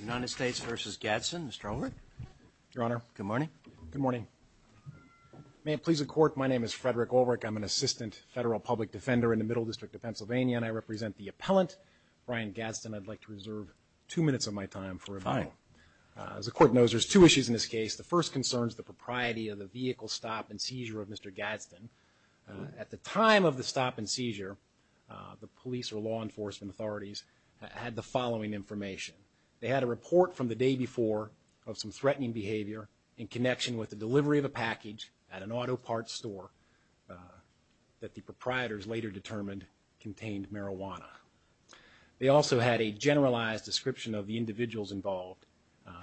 United States v. Gadsden. Mr. Ulrich. Your Honor. Good morning. Good morning. May it please the Court, my name is Frederick Ulrich. I'm an Assistant Federal Public Defender in the Middle District of Pennsylvania, and I represent the appellant, Brian Gadsden. I'd like to reserve two minutes of my time for review. Fine. As the Court knows, there's two issues in this case. The first concern is the propriety of the vehicle stop and seizure of Mr. Gadsden. At the time of the stop and seizure, the police or law enforcement authorities had the following information. They had a report from the day before of some threatening behavior in connection with the delivery of a package at an auto parts store that the proprietors later determined contained marijuana. They also had a generalized description of the individuals involved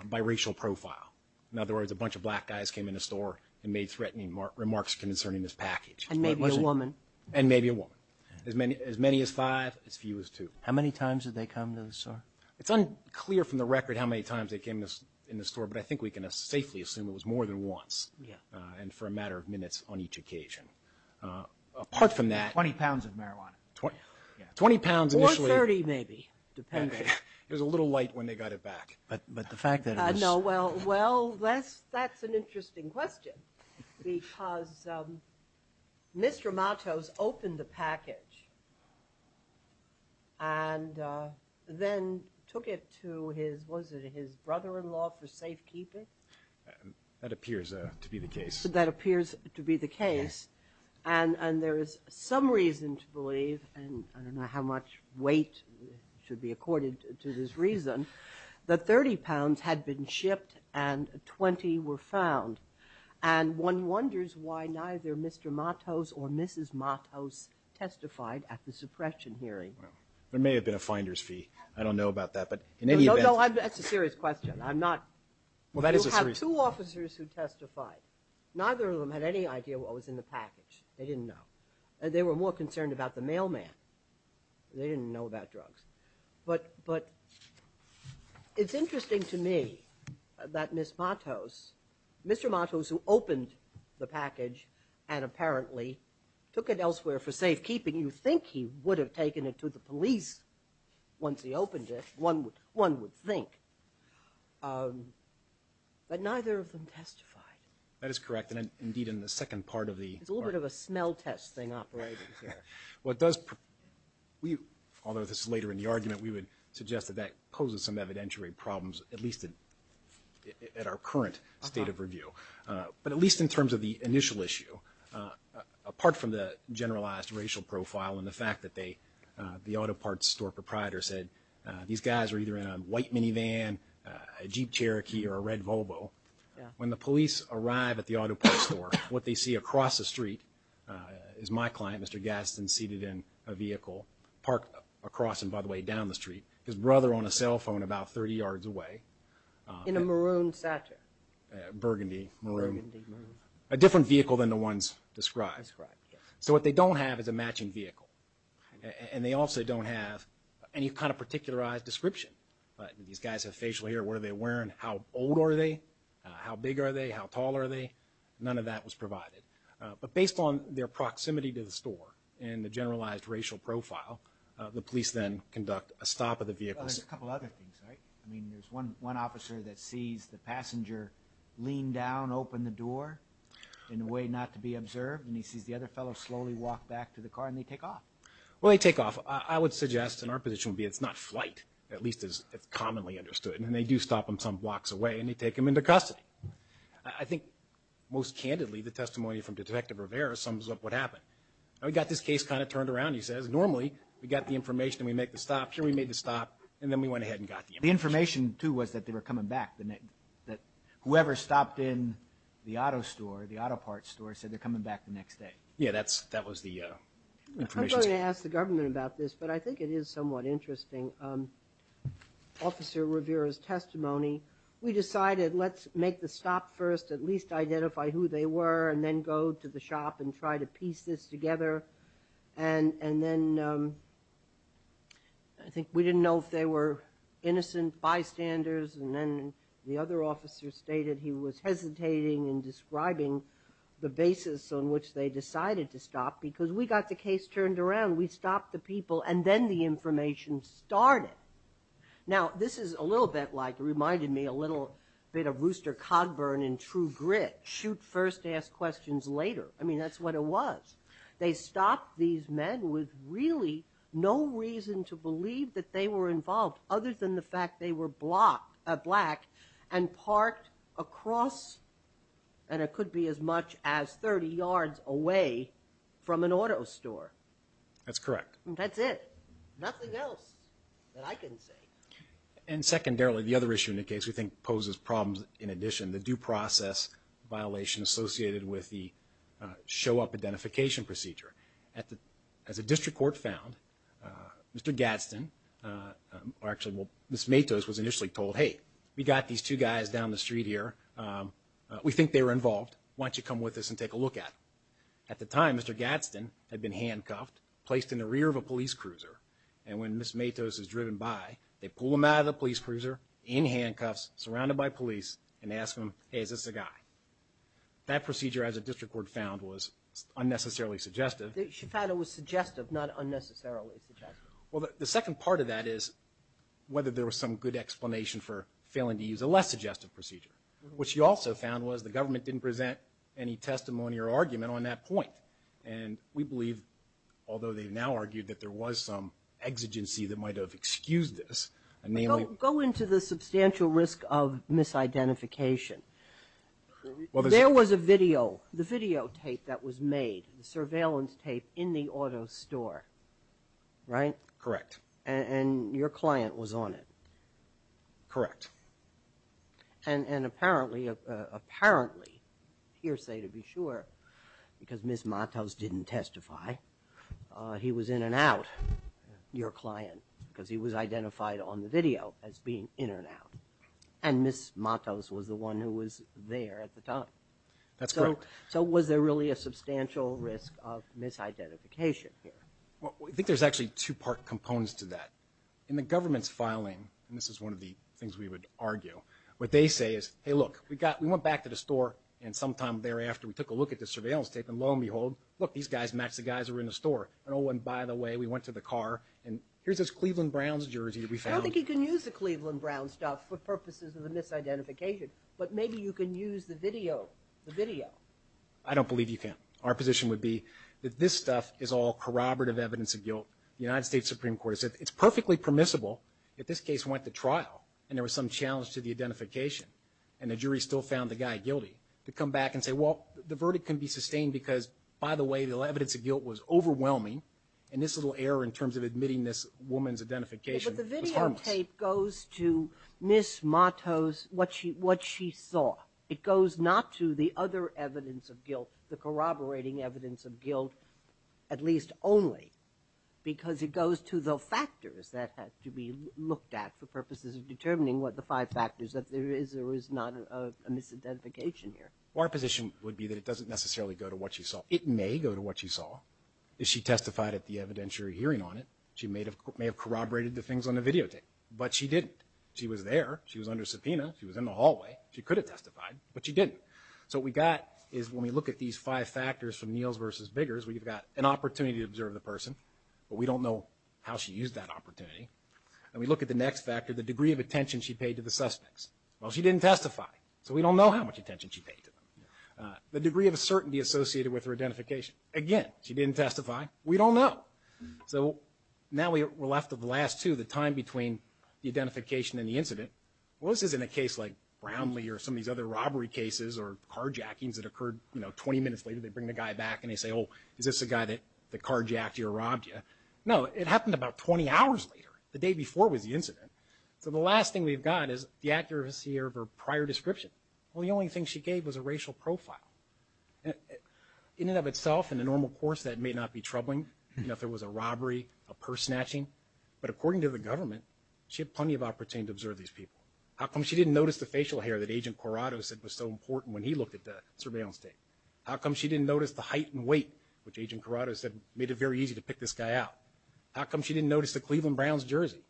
by racial profile. In other words, a bunch of black guys came in the store and made threatening remarks concerning this package. And maybe a woman. And maybe a woman. As many as five, as few as two. How many times did they come to the store? It's unclear from the record how many times they came in the store, but I think we can safely assume it was more than once. Yeah. And for a matter of minutes on each occasion. Apart from that. 20 pounds of marijuana. 20 pounds initially. Or 30 maybe, depending. It was a little light when they got it back. But the fact that it was. No, well, that's an interesting question. Because Mr. Matos opened the package. And then took it to his, was it his brother-in-law for safekeeping? That appears to be the case. That appears to be the case. And there is some reason to believe, and I don't know how much weight should be accorded to this reason, that 30 pounds had been shipped and 20 were found. And one wonders why neither Mr. Matos or Mrs. Matos testified at the suppression hearing. There may have been a finder's fee. I don't know about that. But in any event. No, no, that's a serious question. I'm not. Well, that is a serious. You have two officers who testified. Neither of them had any idea what was in the package. They didn't know. They were more concerned about the mailman. They didn't know about drugs. But it's interesting to me that Mr. Matos, who opened the package and apparently took it elsewhere for safekeeping, you'd think he would have taken it to the police once he opened it. One would think. But neither of them testified. That is correct. Indeed, in the second part of the... It's a little bit of a smell test thing operating here. What does... Although this is later in the argument, we would suggest that that poses some evidentiary problems, at least at our current state of review. But at least in terms of the initial issue, apart from the generalized racial profile and the fact that the auto parts store proprietor said these guys were either in a white minivan, a Jeep Cherokee, or a red Volvo, when the police arrive at the auto parts store, what they see across the street is my client, Mr. Gaston, seated in a vehicle, parked across and by the way down the street, his brother on a cell phone about 30 yards away. In a maroon Satcher. Burgundy, maroon. Burgundy, maroon. A different vehicle than the ones described. Described, yes. So what they don't have is a matching vehicle. And they also don't have any kind of particularized description. These guys have facial hair. What are they wearing? How old are they? How big are they? How tall are they? None of that was provided. But based on their proximity to the store and the generalized racial profile, the police then conduct a stop of the vehicle. Well, there's a couple other things, right? I mean, there's one officer that sees the passenger lean down, open the door in a way not to be observed, and he sees the other fellow slowly walk back to the car, and they take off. Well, they take off. I would suggest, and our position would be it's not flight, at least as it's commonly understood. And they do stop him some blocks away, and they take him into custody. I think, most candidly, the testimony from Detective Rivera sums up what happened. We got this case kind of turned around, he says. Normally, we got the information and we make the stop. Here we made the stop, and then we went ahead and got the information. The information, too, was that they were coming back, that whoever stopped in the auto store, the auto parts store, said they're coming back the next day. Yeah, that was the information. I'm going to ask the government about this, but I think it is somewhat interesting. Officer Rivera's testimony, we decided let's make the stop first, at least identify who they were, and then go to the shop and try to piece this together. And then I think we didn't know if they were innocent bystanders, and then the other officer stated he was hesitating in describing the basis on which they decided to stop because we got the case turned around. We stopped the people, and then the information started. Now, this is a little bit like, it reminded me a little bit of Rooster Cogburn in True Grit, shoot first, ask questions later. I mean, that's what it was. They stopped these men with really no reason to believe that they were involved, other than the fact they were black and parked across, and it could be as much as 30 yards away from an auto store. That's correct. That's it. Nothing else that I can say. And secondarily, the other issue in the case we think poses problems in addition, the due process violation associated with the show-up identification procedure. As a district court found, Mr. Gadsden, or actually Ms. Matos was initially told, hey, we got these two guys down the street here. We think they were involved. Why don't you come with us and take a look at them? At the time, Mr. Gadsden had been handcuffed, placed in the rear of a police cruiser, and when Ms. Matos is driven by, they pull him out of the police cruiser in handcuffs, surrounded by police, and ask him, hey, is this a guy? That procedure, as a district court found, was unnecessarily suggestive. She found it was suggestive, not unnecessarily suggestive. Well, the second part of that is whether there was some good explanation for failing to use a less suggestive procedure. What she also found was the government didn't present any testimony or argument on that point. And we believe, although they've now argued that there was some exigency that might have excused this. Go into the substantial risk of misidentification. There was a video, the videotape that was made, the surveillance tape in the auto store. Right? Correct. And your client was on it. Correct. And apparently, hearsay to be sure, because Ms. Matos didn't testify, he was in and out, your client, because he was identified on the video as being in and out. And Ms. Matos was the one who was there at the time. That's correct. So was there really a substantial risk of misidentification here? Well, I think there's actually two-part components to that. In the government's filing, and this is one of the things we would argue, what they say is, hey, look, we went back to the store, and sometime thereafter we took a look at the surveillance tape, and lo and behold, look, these guys match the guys that were in the store. And oh, and by the way, we went to the car, and here's this Cleveland Browns jersey that we found. I don't think you can use the Cleveland Browns stuff for purposes of the misidentification. But maybe you can use the video. I don't believe you can. Our position would be that this stuff is all corroborative evidence of guilt. The United States Supreme Court has said it's perfectly permissible that this case went to trial, and there was some challenge to the identification, and the jury still found the guy guilty, to come back and say, well, the verdict can be sustained because, by the way, the evidence of guilt was overwhelming, and this little error in terms of admitting this woman's identification was harmless. The videotape goes to Ms. Matos, what she saw. It goes not to the other evidence of guilt, the corroborating evidence of guilt, at least only, because it goes to the factors that have to be looked at for purposes of determining what the five factors that there is or is not a misidentification here. Our position would be that it doesn't necessarily go to what she saw. It may go to what she saw. If she testified at the evidentiary hearing on it, she may have corroborated the things on the videotape, but she didn't. She was there. She was under subpoena. She was in the hallway. She could have testified, but she didn't. So what we got is when we look at these five factors from Neils versus Biggers, we've got an opportunity to observe the person, but we don't know how she used that opportunity. And we look at the next factor, the degree of attention she paid to the suspects. Well, she didn't testify, so we don't know how much attention she paid to them. The degree of certainty associated with her identification. Again, she didn't testify. We don't know. So now we're left with the last two, the time between the identification and the incident. Well, this isn't a case like Brownlee or some of these other robbery cases or carjackings that occurred 20 minutes later. They bring the guy back and they say, oh, is this the guy that carjacked you or robbed you? No, it happened about 20 hours later. The day before was the incident. So the last thing we've got is the accuracy of her prior description. Well, the only thing she gave was a racial profile. In and of itself, in a normal course, that may not be troubling. You know, if there was a robbery, a purse snatching. But according to the government, she had plenty of opportunity to observe these people. How come she didn't notice the facial hair that Agent Corrado said was so important when he looked at the surveillance tape? How come she didn't notice the height and weight, which Agent Corrado said made it very easy to pick this guy out? How come she didn't notice the Cleveland Browns jersey?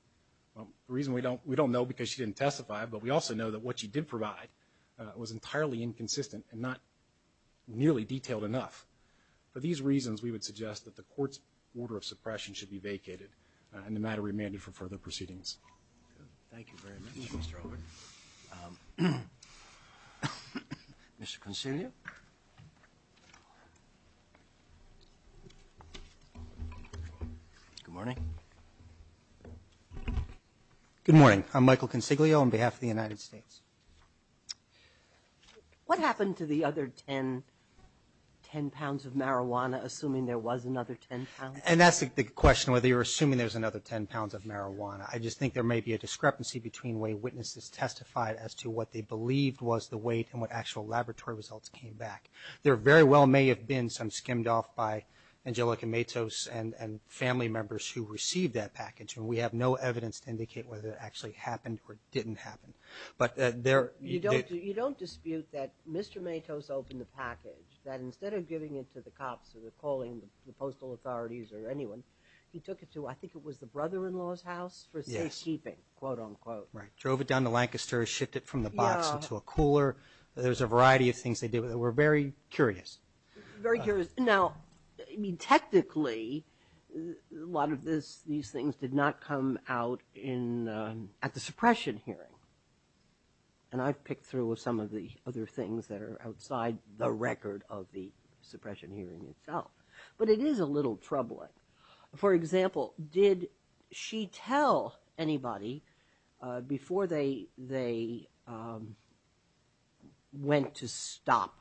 The reason we don't know is because she didn't testify, but we also know that what she did provide was entirely inconsistent and not nearly detailed enough. For these reasons, we would suggest that the court's order of suppression should be vacated and the matter remanded for further proceedings. Thank you very much, Mr. Overton. Mr. Consiglio? Good morning. Good morning. I'm Michael Consiglio on behalf of the United States. What happened to the other 10 pounds of marijuana, assuming there was another 10 pounds? And that's the question, whether you're assuming there's another 10 pounds of marijuana. I just think there may be a discrepancy between the way witnesses testified as to what they believed was the weight and what actual laboratory results came back. There very well may have been some skimmed off by Angelica Matos and family members who received that package, and we have no evidence to indicate whether it actually happened or didn't happen. You don't dispute that Mr. Matos opened the package, that instead of giving it to the cops or calling the postal authorities or anyone, he took it to I think it was the brother-in-law's house for safekeeping, quote, unquote. Right. Drove it down to Lancaster, shipped it from the box into a cooler. There was a variety of things they did. We're very curious. Very curious. Now, technically, a lot of these things did not come out at the suppression hearing, and I've picked through some of the other things that are outside the record of the suppression hearing itself. But it is a little troubling. For example, did she tell anybody before they went to stop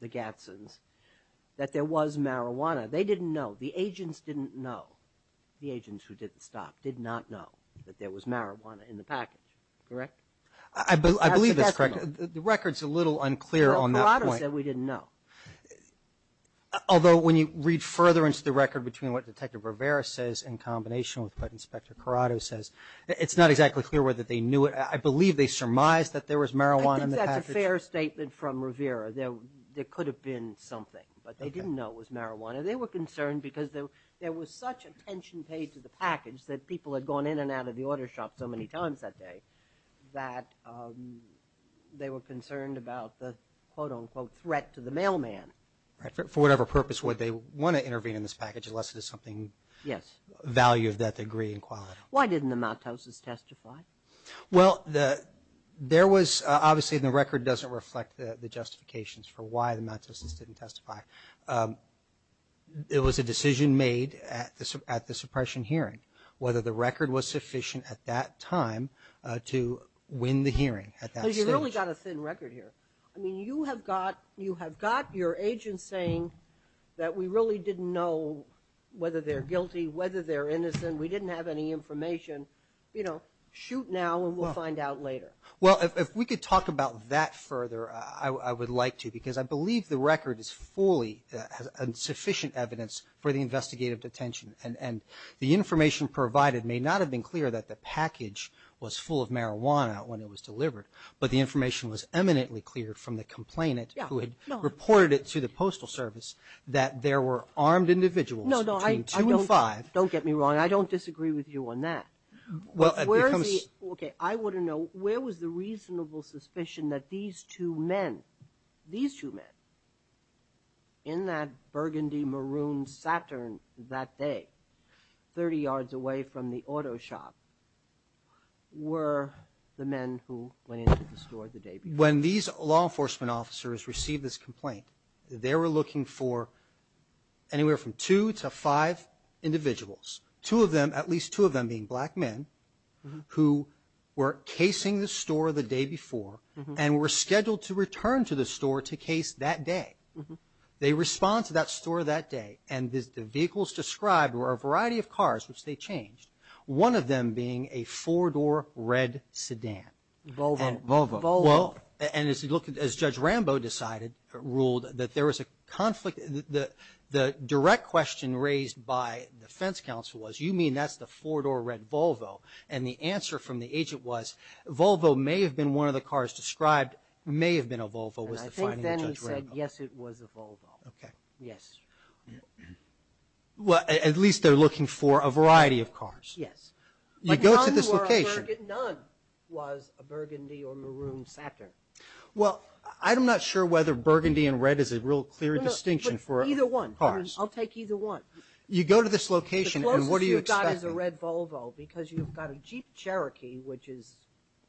the Gadsens that there was marijuana? They didn't know. The agents didn't know. The agents who did the stop did not know that there was marijuana in the package. Correct? I believe that's correct. The record's a little unclear on that point. Well, Corrado said we didn't know. Although when you read further into the record between what Detective Rivera says in combination with what Inspector Corrado says, it's not exactly clear whether they knew it. I believe they surmised that there was marijuana in the package. I think that's a fair statement from Rivera. There could have been something, but they didn't know it was marijuana. They were concerned because there was such attention paid to the package that people had gone in and out of the auto shop so many times that day that they were concerned about the, quote-unquote, threat to the mailman. For whatever purpose, would they want to intervene in this package unless it is something of value of that degree and quality? Why didn't the Maltoses testify? Well, obviously the record doesn't reflect the justifications for why the Maltoses didn't testify. It was a decision made at the suppression hearing, whether the record was sufficient at that time to win the hearing at that stage. You've really got a thin record here. You have got your agents saying that we really didn't know whether they're guilty, whether they're innocent, we didn't have any information. You know, shoot now and we'll find out later. Well, if we could talk about that further, I would like to, because I believe the record is fully sufficient evidence for the investigative detention. And the information provided may not have been clear that the package was full of marijuana when it was delivered, but the information was eminently cleared from the complainant who had reported it to the Postal Service that there were armed individuals between 2 and 5. No, no, don't get me wrong. And I don't disagree with you on that. Okay, I want to know, where was the reasonable suspicion that these two men, these two men in that burgundy maroon Saturn that day, 30 yards away from the auto shop, were the men who went into the store the day before? When these law enforcement officers received this complaint, they were looking for anywhere from two to five individuals, two of them, at least two of them being black men, who were casing the store the day before and were scheduled to return to the store to case that day. They respond to that store that day, and the vehicles described were a variety of cars which they changed, one of them being a four-door red sedan. Volvo. Volvo. And Judge Rambo decided, ruled, that there was a conflict. The direct question raised by the defense counsel was, you mean that's the four-door red Volvo? And the answer from the agent was, Volvo may have been one of the cars described, may have been a Volvo, was the finding of Judge Rambo. And I think then he said, yes, it was a Volvo. Okay. Yes. Well, at least they're looking for a variety of cars. Yes. You go to this location. None was a burgundy or maroon Saturn. Well, I'm not sure whether burgundy and red is a real clear distinction for cars. Either one. I'll take either one. You go to this location, and what are you expecting? The closest you've got is a red Volvo because you've got a Jeep Cherokee, which is,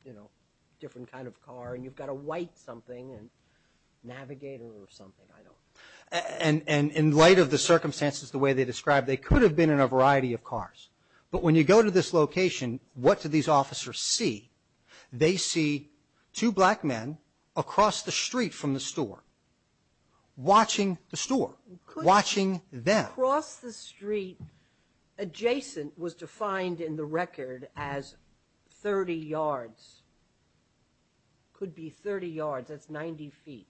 you know, a different kind of car, and you've got a white something, a Navigator or something, I don't know. And in light of the circumstances the way they described, they could have been in a variety of cars. But when you go to this location, what do these officers see? They see two black men across the street from the store watching the store, watching them. Across the street adjacent was defined in the record as 30 yards. Could be 30 yards. That's 90 feet.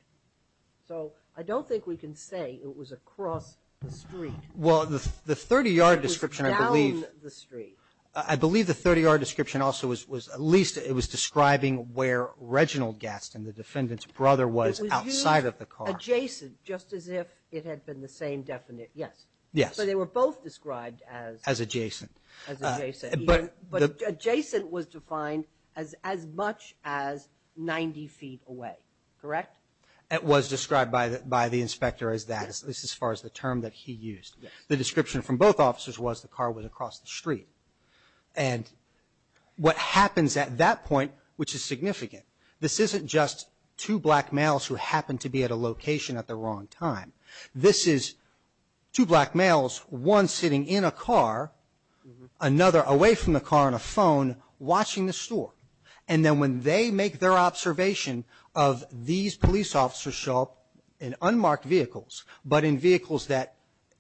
So I don't think we can say it was across the street. Well, the 30-yard description, I believe. It was down the street. I believe the 30-yard description also was at least it was describing where Reginald Gaston, the defendant's brother, was outside of the car. It was used adjacent, just as if it had been the same definite. Yes. Yes. So they were both described as. As adjacent. As adjacent. But adjacent was defined as as much as 90 feet away. Correct? It was described by the inspector as that, at least as far as the term that he used. Yes. The description from both officers was the car was across the street. And what happens at that point, which is significant, this isn't just two black males who happen to be at a location at the wrong time. This is two black males, one sitting in a car, another away from the car on a phone, watching the store. And then when they make their observation of these police officers show up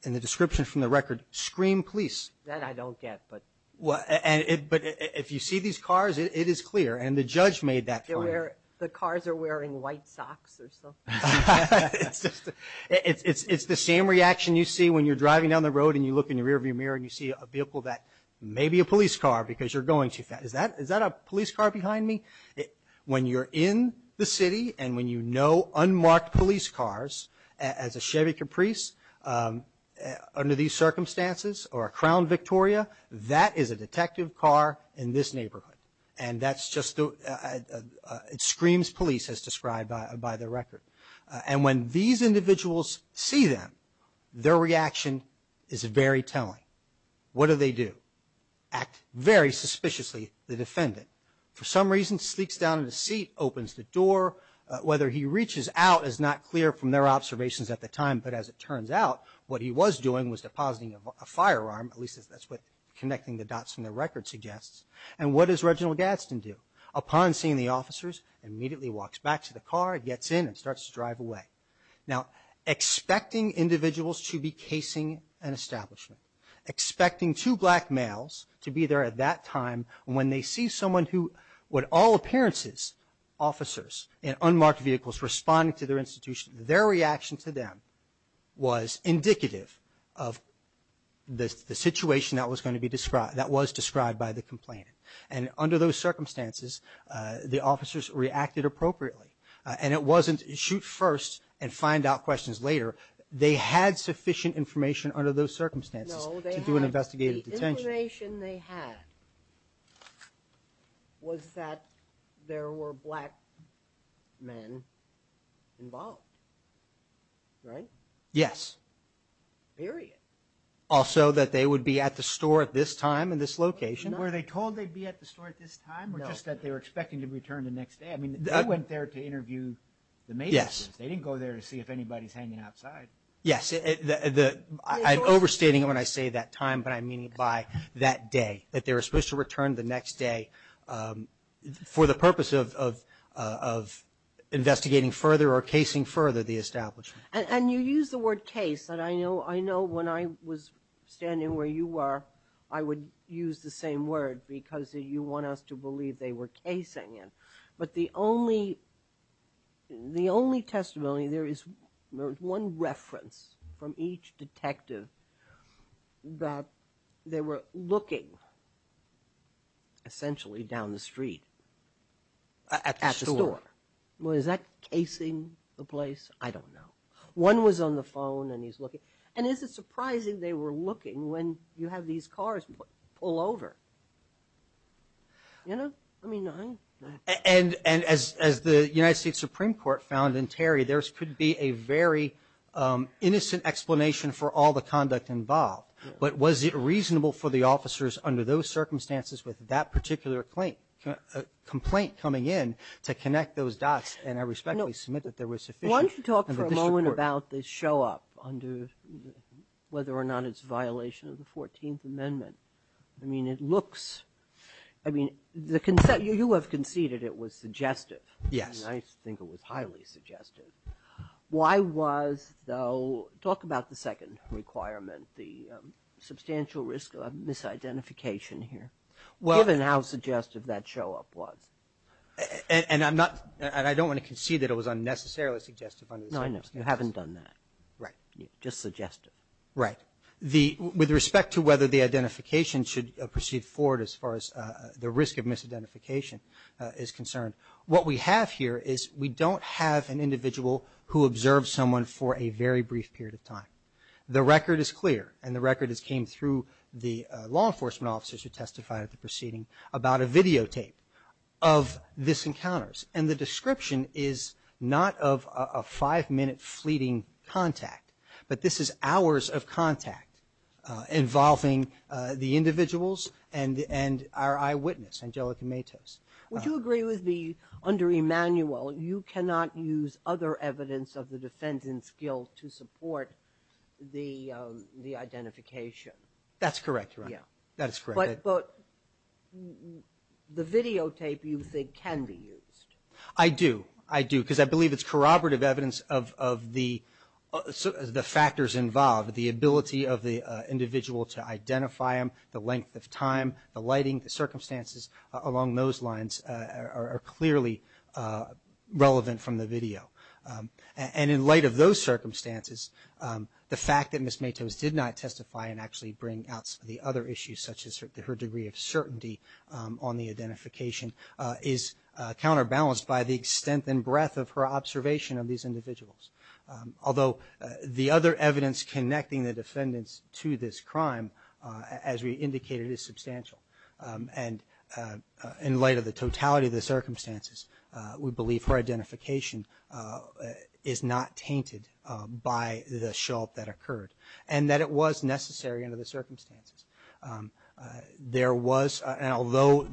in the description from the record, scream police. That I don't get. But if you see these cars, it is clear. And the judge made that point. The cars are wearing white socks or something. It's the same reaction you see when you're driving down the road and you look in the rearview mirror and you see a vehicle that may be a police car because you're going too fast. Is that a police car behind me? When you're in the city and when you know unmarked police cars, as a Chevy Caprice, under these circumstances, or a Crown Victoria, that is a detective car in this neighborhood. And that's just the screams police as described by the record. And when these individuals see them, their reaction is very telling. What do they do? Act very suspiciously, the defendant. For some reason, sneaks down into the seat, opens the door. Whether he reaches out is not clear from their observations at the time. But as it turns out, what he was doing was depositing a firearm. At least that's what connecting the dots from the record suggests. And what does Reginald Gadsden do? Upon seeing the officers, immediately walks back to the car, gets in, and starts to drive away. Now, expecting individuals to be casing an establishment. Expecting two black males to be there at that time when they see someone who, with all appearances, officers in unmarked vehicles responding to their institution, their reaction to them was indicative of the situation that was going to be described, that was described by the complainant. And under those circumstances, the officers reacted appropriately. And it wasn't shoot first and find out questions later. They had sufficient information under those circumstances to do an investigative detention. The only information they had was that there were black men involved, right? Yes. Period. Also that they would be at the store at this time and this location. Were they told they'd be at the store at this time, or just that they were expecting to return the next day? I mean, they went there to interview the mayors. They didn't go there to see if anybody's hanging outside. Yes. I'm overstating it when I say that time, but I mean by that day, that they were supposed to return the next day for the purpose of investigating further or casing further the establishment. And you use the word case. And I know when I was standing where you were, I would use the same word because you want us to believe they were casing it. But the only testimony there is one reference from each detective that they were looking essentially down the street at the store. Was that casing the place? I don't know. One was on the phone and he's looking. And is it surprising they were looking when you have these cars pull over? You know? I mean, I don't know. And as the United States Supreme Court found in Terry, there could be a very innocent explanation for all the conduct involved. But was it reasonable for the officers under those circumstances with that particular complaint coming in to connect those dots? And I respectfully submit that there was sufficient. Why don't you talk for a moment about the show-up under whether or not it's a violation of the 14th Amendment? I mean, it looks – I mean, you have conceded it was suggestive. Yes. And I think it was highly suggestive. Why was, though – talk about the second requirement, the substantial risk of misidentification here, given how suggestive that show-up was. And I'm not – and I don't want to concede that it was unnecessarily suggestive under the circumstances. No, I know. You haven't done that. Right. Just suggestive. Right. Now, the – with respect to whether the identification should proceed forward as far as the risk of misidentification is concerned, what we have here is we don't have an individual who observed someone for a very brief period of time. The record is clear, and the record has came through the law enforcement officers who testified at the proceeding about a videotape of this encounters. And the description is not of a five-minute fleeting contact, but this is hours of contact involving the individuals and our eyewitness, Angelica Matos. Would you agree with me, under Emanuel, you cannot use other evidence of the defendant's guilt to support the identification? That's correct, Your Honor. Yeah. That is correct. But the videotape, you think, can be used. I do. I do, because I believe it's corroborative evidence of the factors involved, the ability of the individual to identify him, the length of time, the lighting, the circumstances along those lines are clearly relevant from the video. And in light of those circumstances, the fact that Ms. Matos did not testify and actually bring out the other issues, such as her degree of certainty on the identification, is counterbalanced by the extent and breadth of her observation of these individuals. Although the other evidence connecting the defendants to this crime, as we indicated, is substantial. And in light of the totality of the circumstances, we believe her identification is not tainted by the assault that occurred and that it was necessary under the circumstances. There was, and although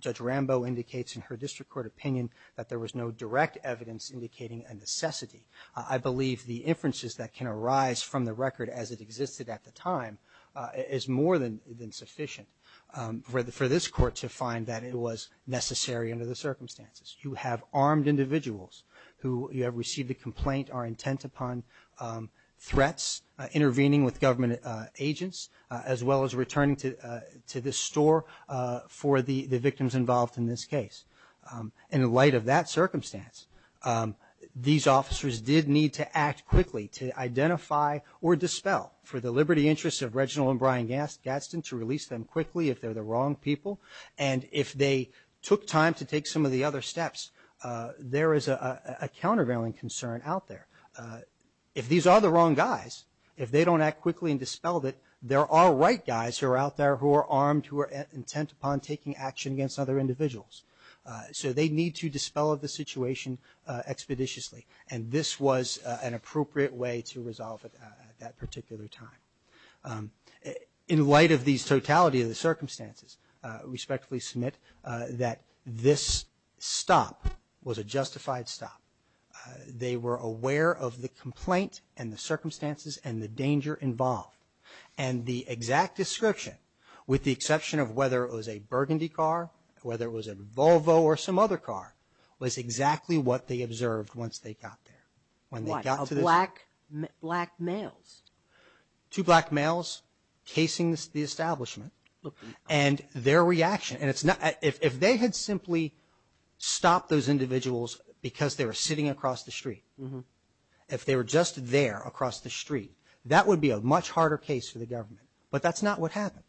Judge Rambo indicates in her district court opinion that there was no direct evidence indicating a necessity, I believe the inferences that can arise from the record as it existed at the time is more than sufficient for this Court to find that it was necessary under the circumstances. You have armed individuals who have received a complaint or intent upon threats, intervening with government agents, as well as returning to the store for the victims involved in this case. In light of that circumstance, these officers did need to act quickly to identify or dispel for the liberty interests of Reginald and Brian Gadsden to release them quickly if they're the wrong people. And if they took time to take some of the other steps, there is a countervailing concern out there. If these are the wrong guys, if they don't act quickly and dispel it, there are right guys who are out there who are armed, who are intent upon taking action against other individuals. So they need to dispel the situation expeditiously, and this was an appropriate way to resolve it at that particular time. In light of the totality of the circumstances, we respectfully submit that this stop was a justified stop. They were aware of the complaint and the circumstances and the danger involved, and the exact description, with the exception of whether it was a Burgundy car, whether it was a Volvo or some other car, was exactly what they observed once they got there. When they got to the store. Black males? Two black males casing the establishment. And their reaction, and it's not – If they had simply stopped those individuals because they were sitting across the street, if they were just there across the street, that would be a much harder case for the government. But that's not what happened.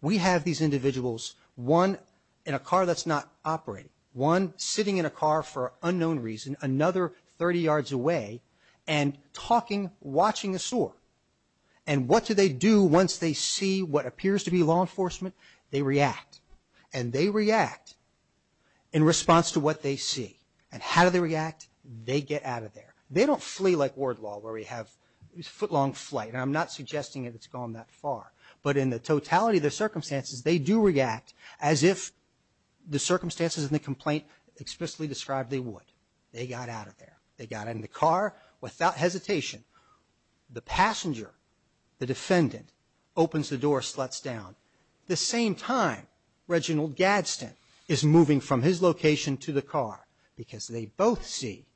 We have these individuals, one in a car that's not operating, one sitting in a car for unknown reason, another 30 yards away, and talking, watching a store. And what do they do once they see what appears to be law enforcement? They react. And they react in response to what they see. And how do they react? They get out of there. They don't flee like ward law, where we have footlong flight. And I'm not suggesting that it's gone that far. But in the totality of the circumstances, they do react as if the circumstances in the complaint explicitly described they would. They got out of there. They got in the car without hesitation. The passenger, the defendant, opens the door, sluts down. The same time, Reginald Gadsden is moving from his location to the car because they both see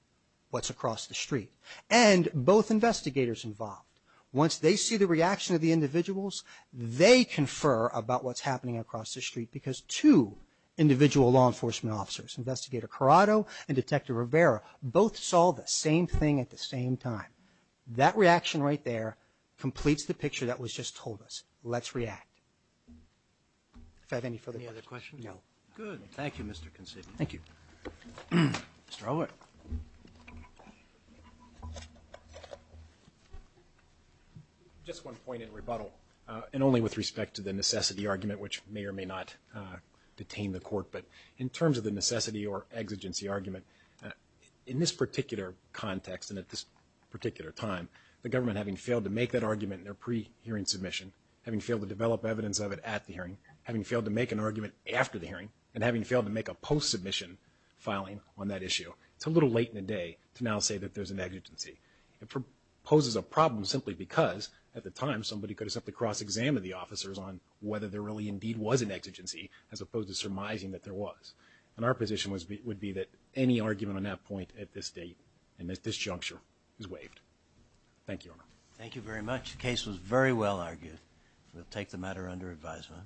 what's across the street and both investigators involved. Once they see the reaction of the individuals, they confer about what's happening across the street because two individual law enforcement officers, Investigator Corrado and Detective Rivera, both saw the same thing at the same time. That reaction right there completes the picture that was just told us. Let's react. If I have any further questions. Any other questions? No. Good. Thank you, Mr. Considine. Thank you. Mr. Allwood. Just one point in rebuttal, and only with respect to the necessity argument, which may or may not detain the court. But in terms of the necessity or exigency argument, in this particular context and at this particular time, the government having failed to make that argument in their pre-hearing submission, having failed to develop evidence of it at the hearing, having failed to make an argument after the hearing, and having failed to make a post-submission filing on that issue, it's a little late in the day to now say that there's an exigency. It poses a problem simply because, at the time, somebody could have simply cross-examined the officers on whether there really indeed was an exigency, as opposed to surmising that there was. And our position would be that any argument on that point at this date and at this juncture is waived. Thank you, Your Honor. Thank you very much. The case was very well argued. We'll take the matter under advisement.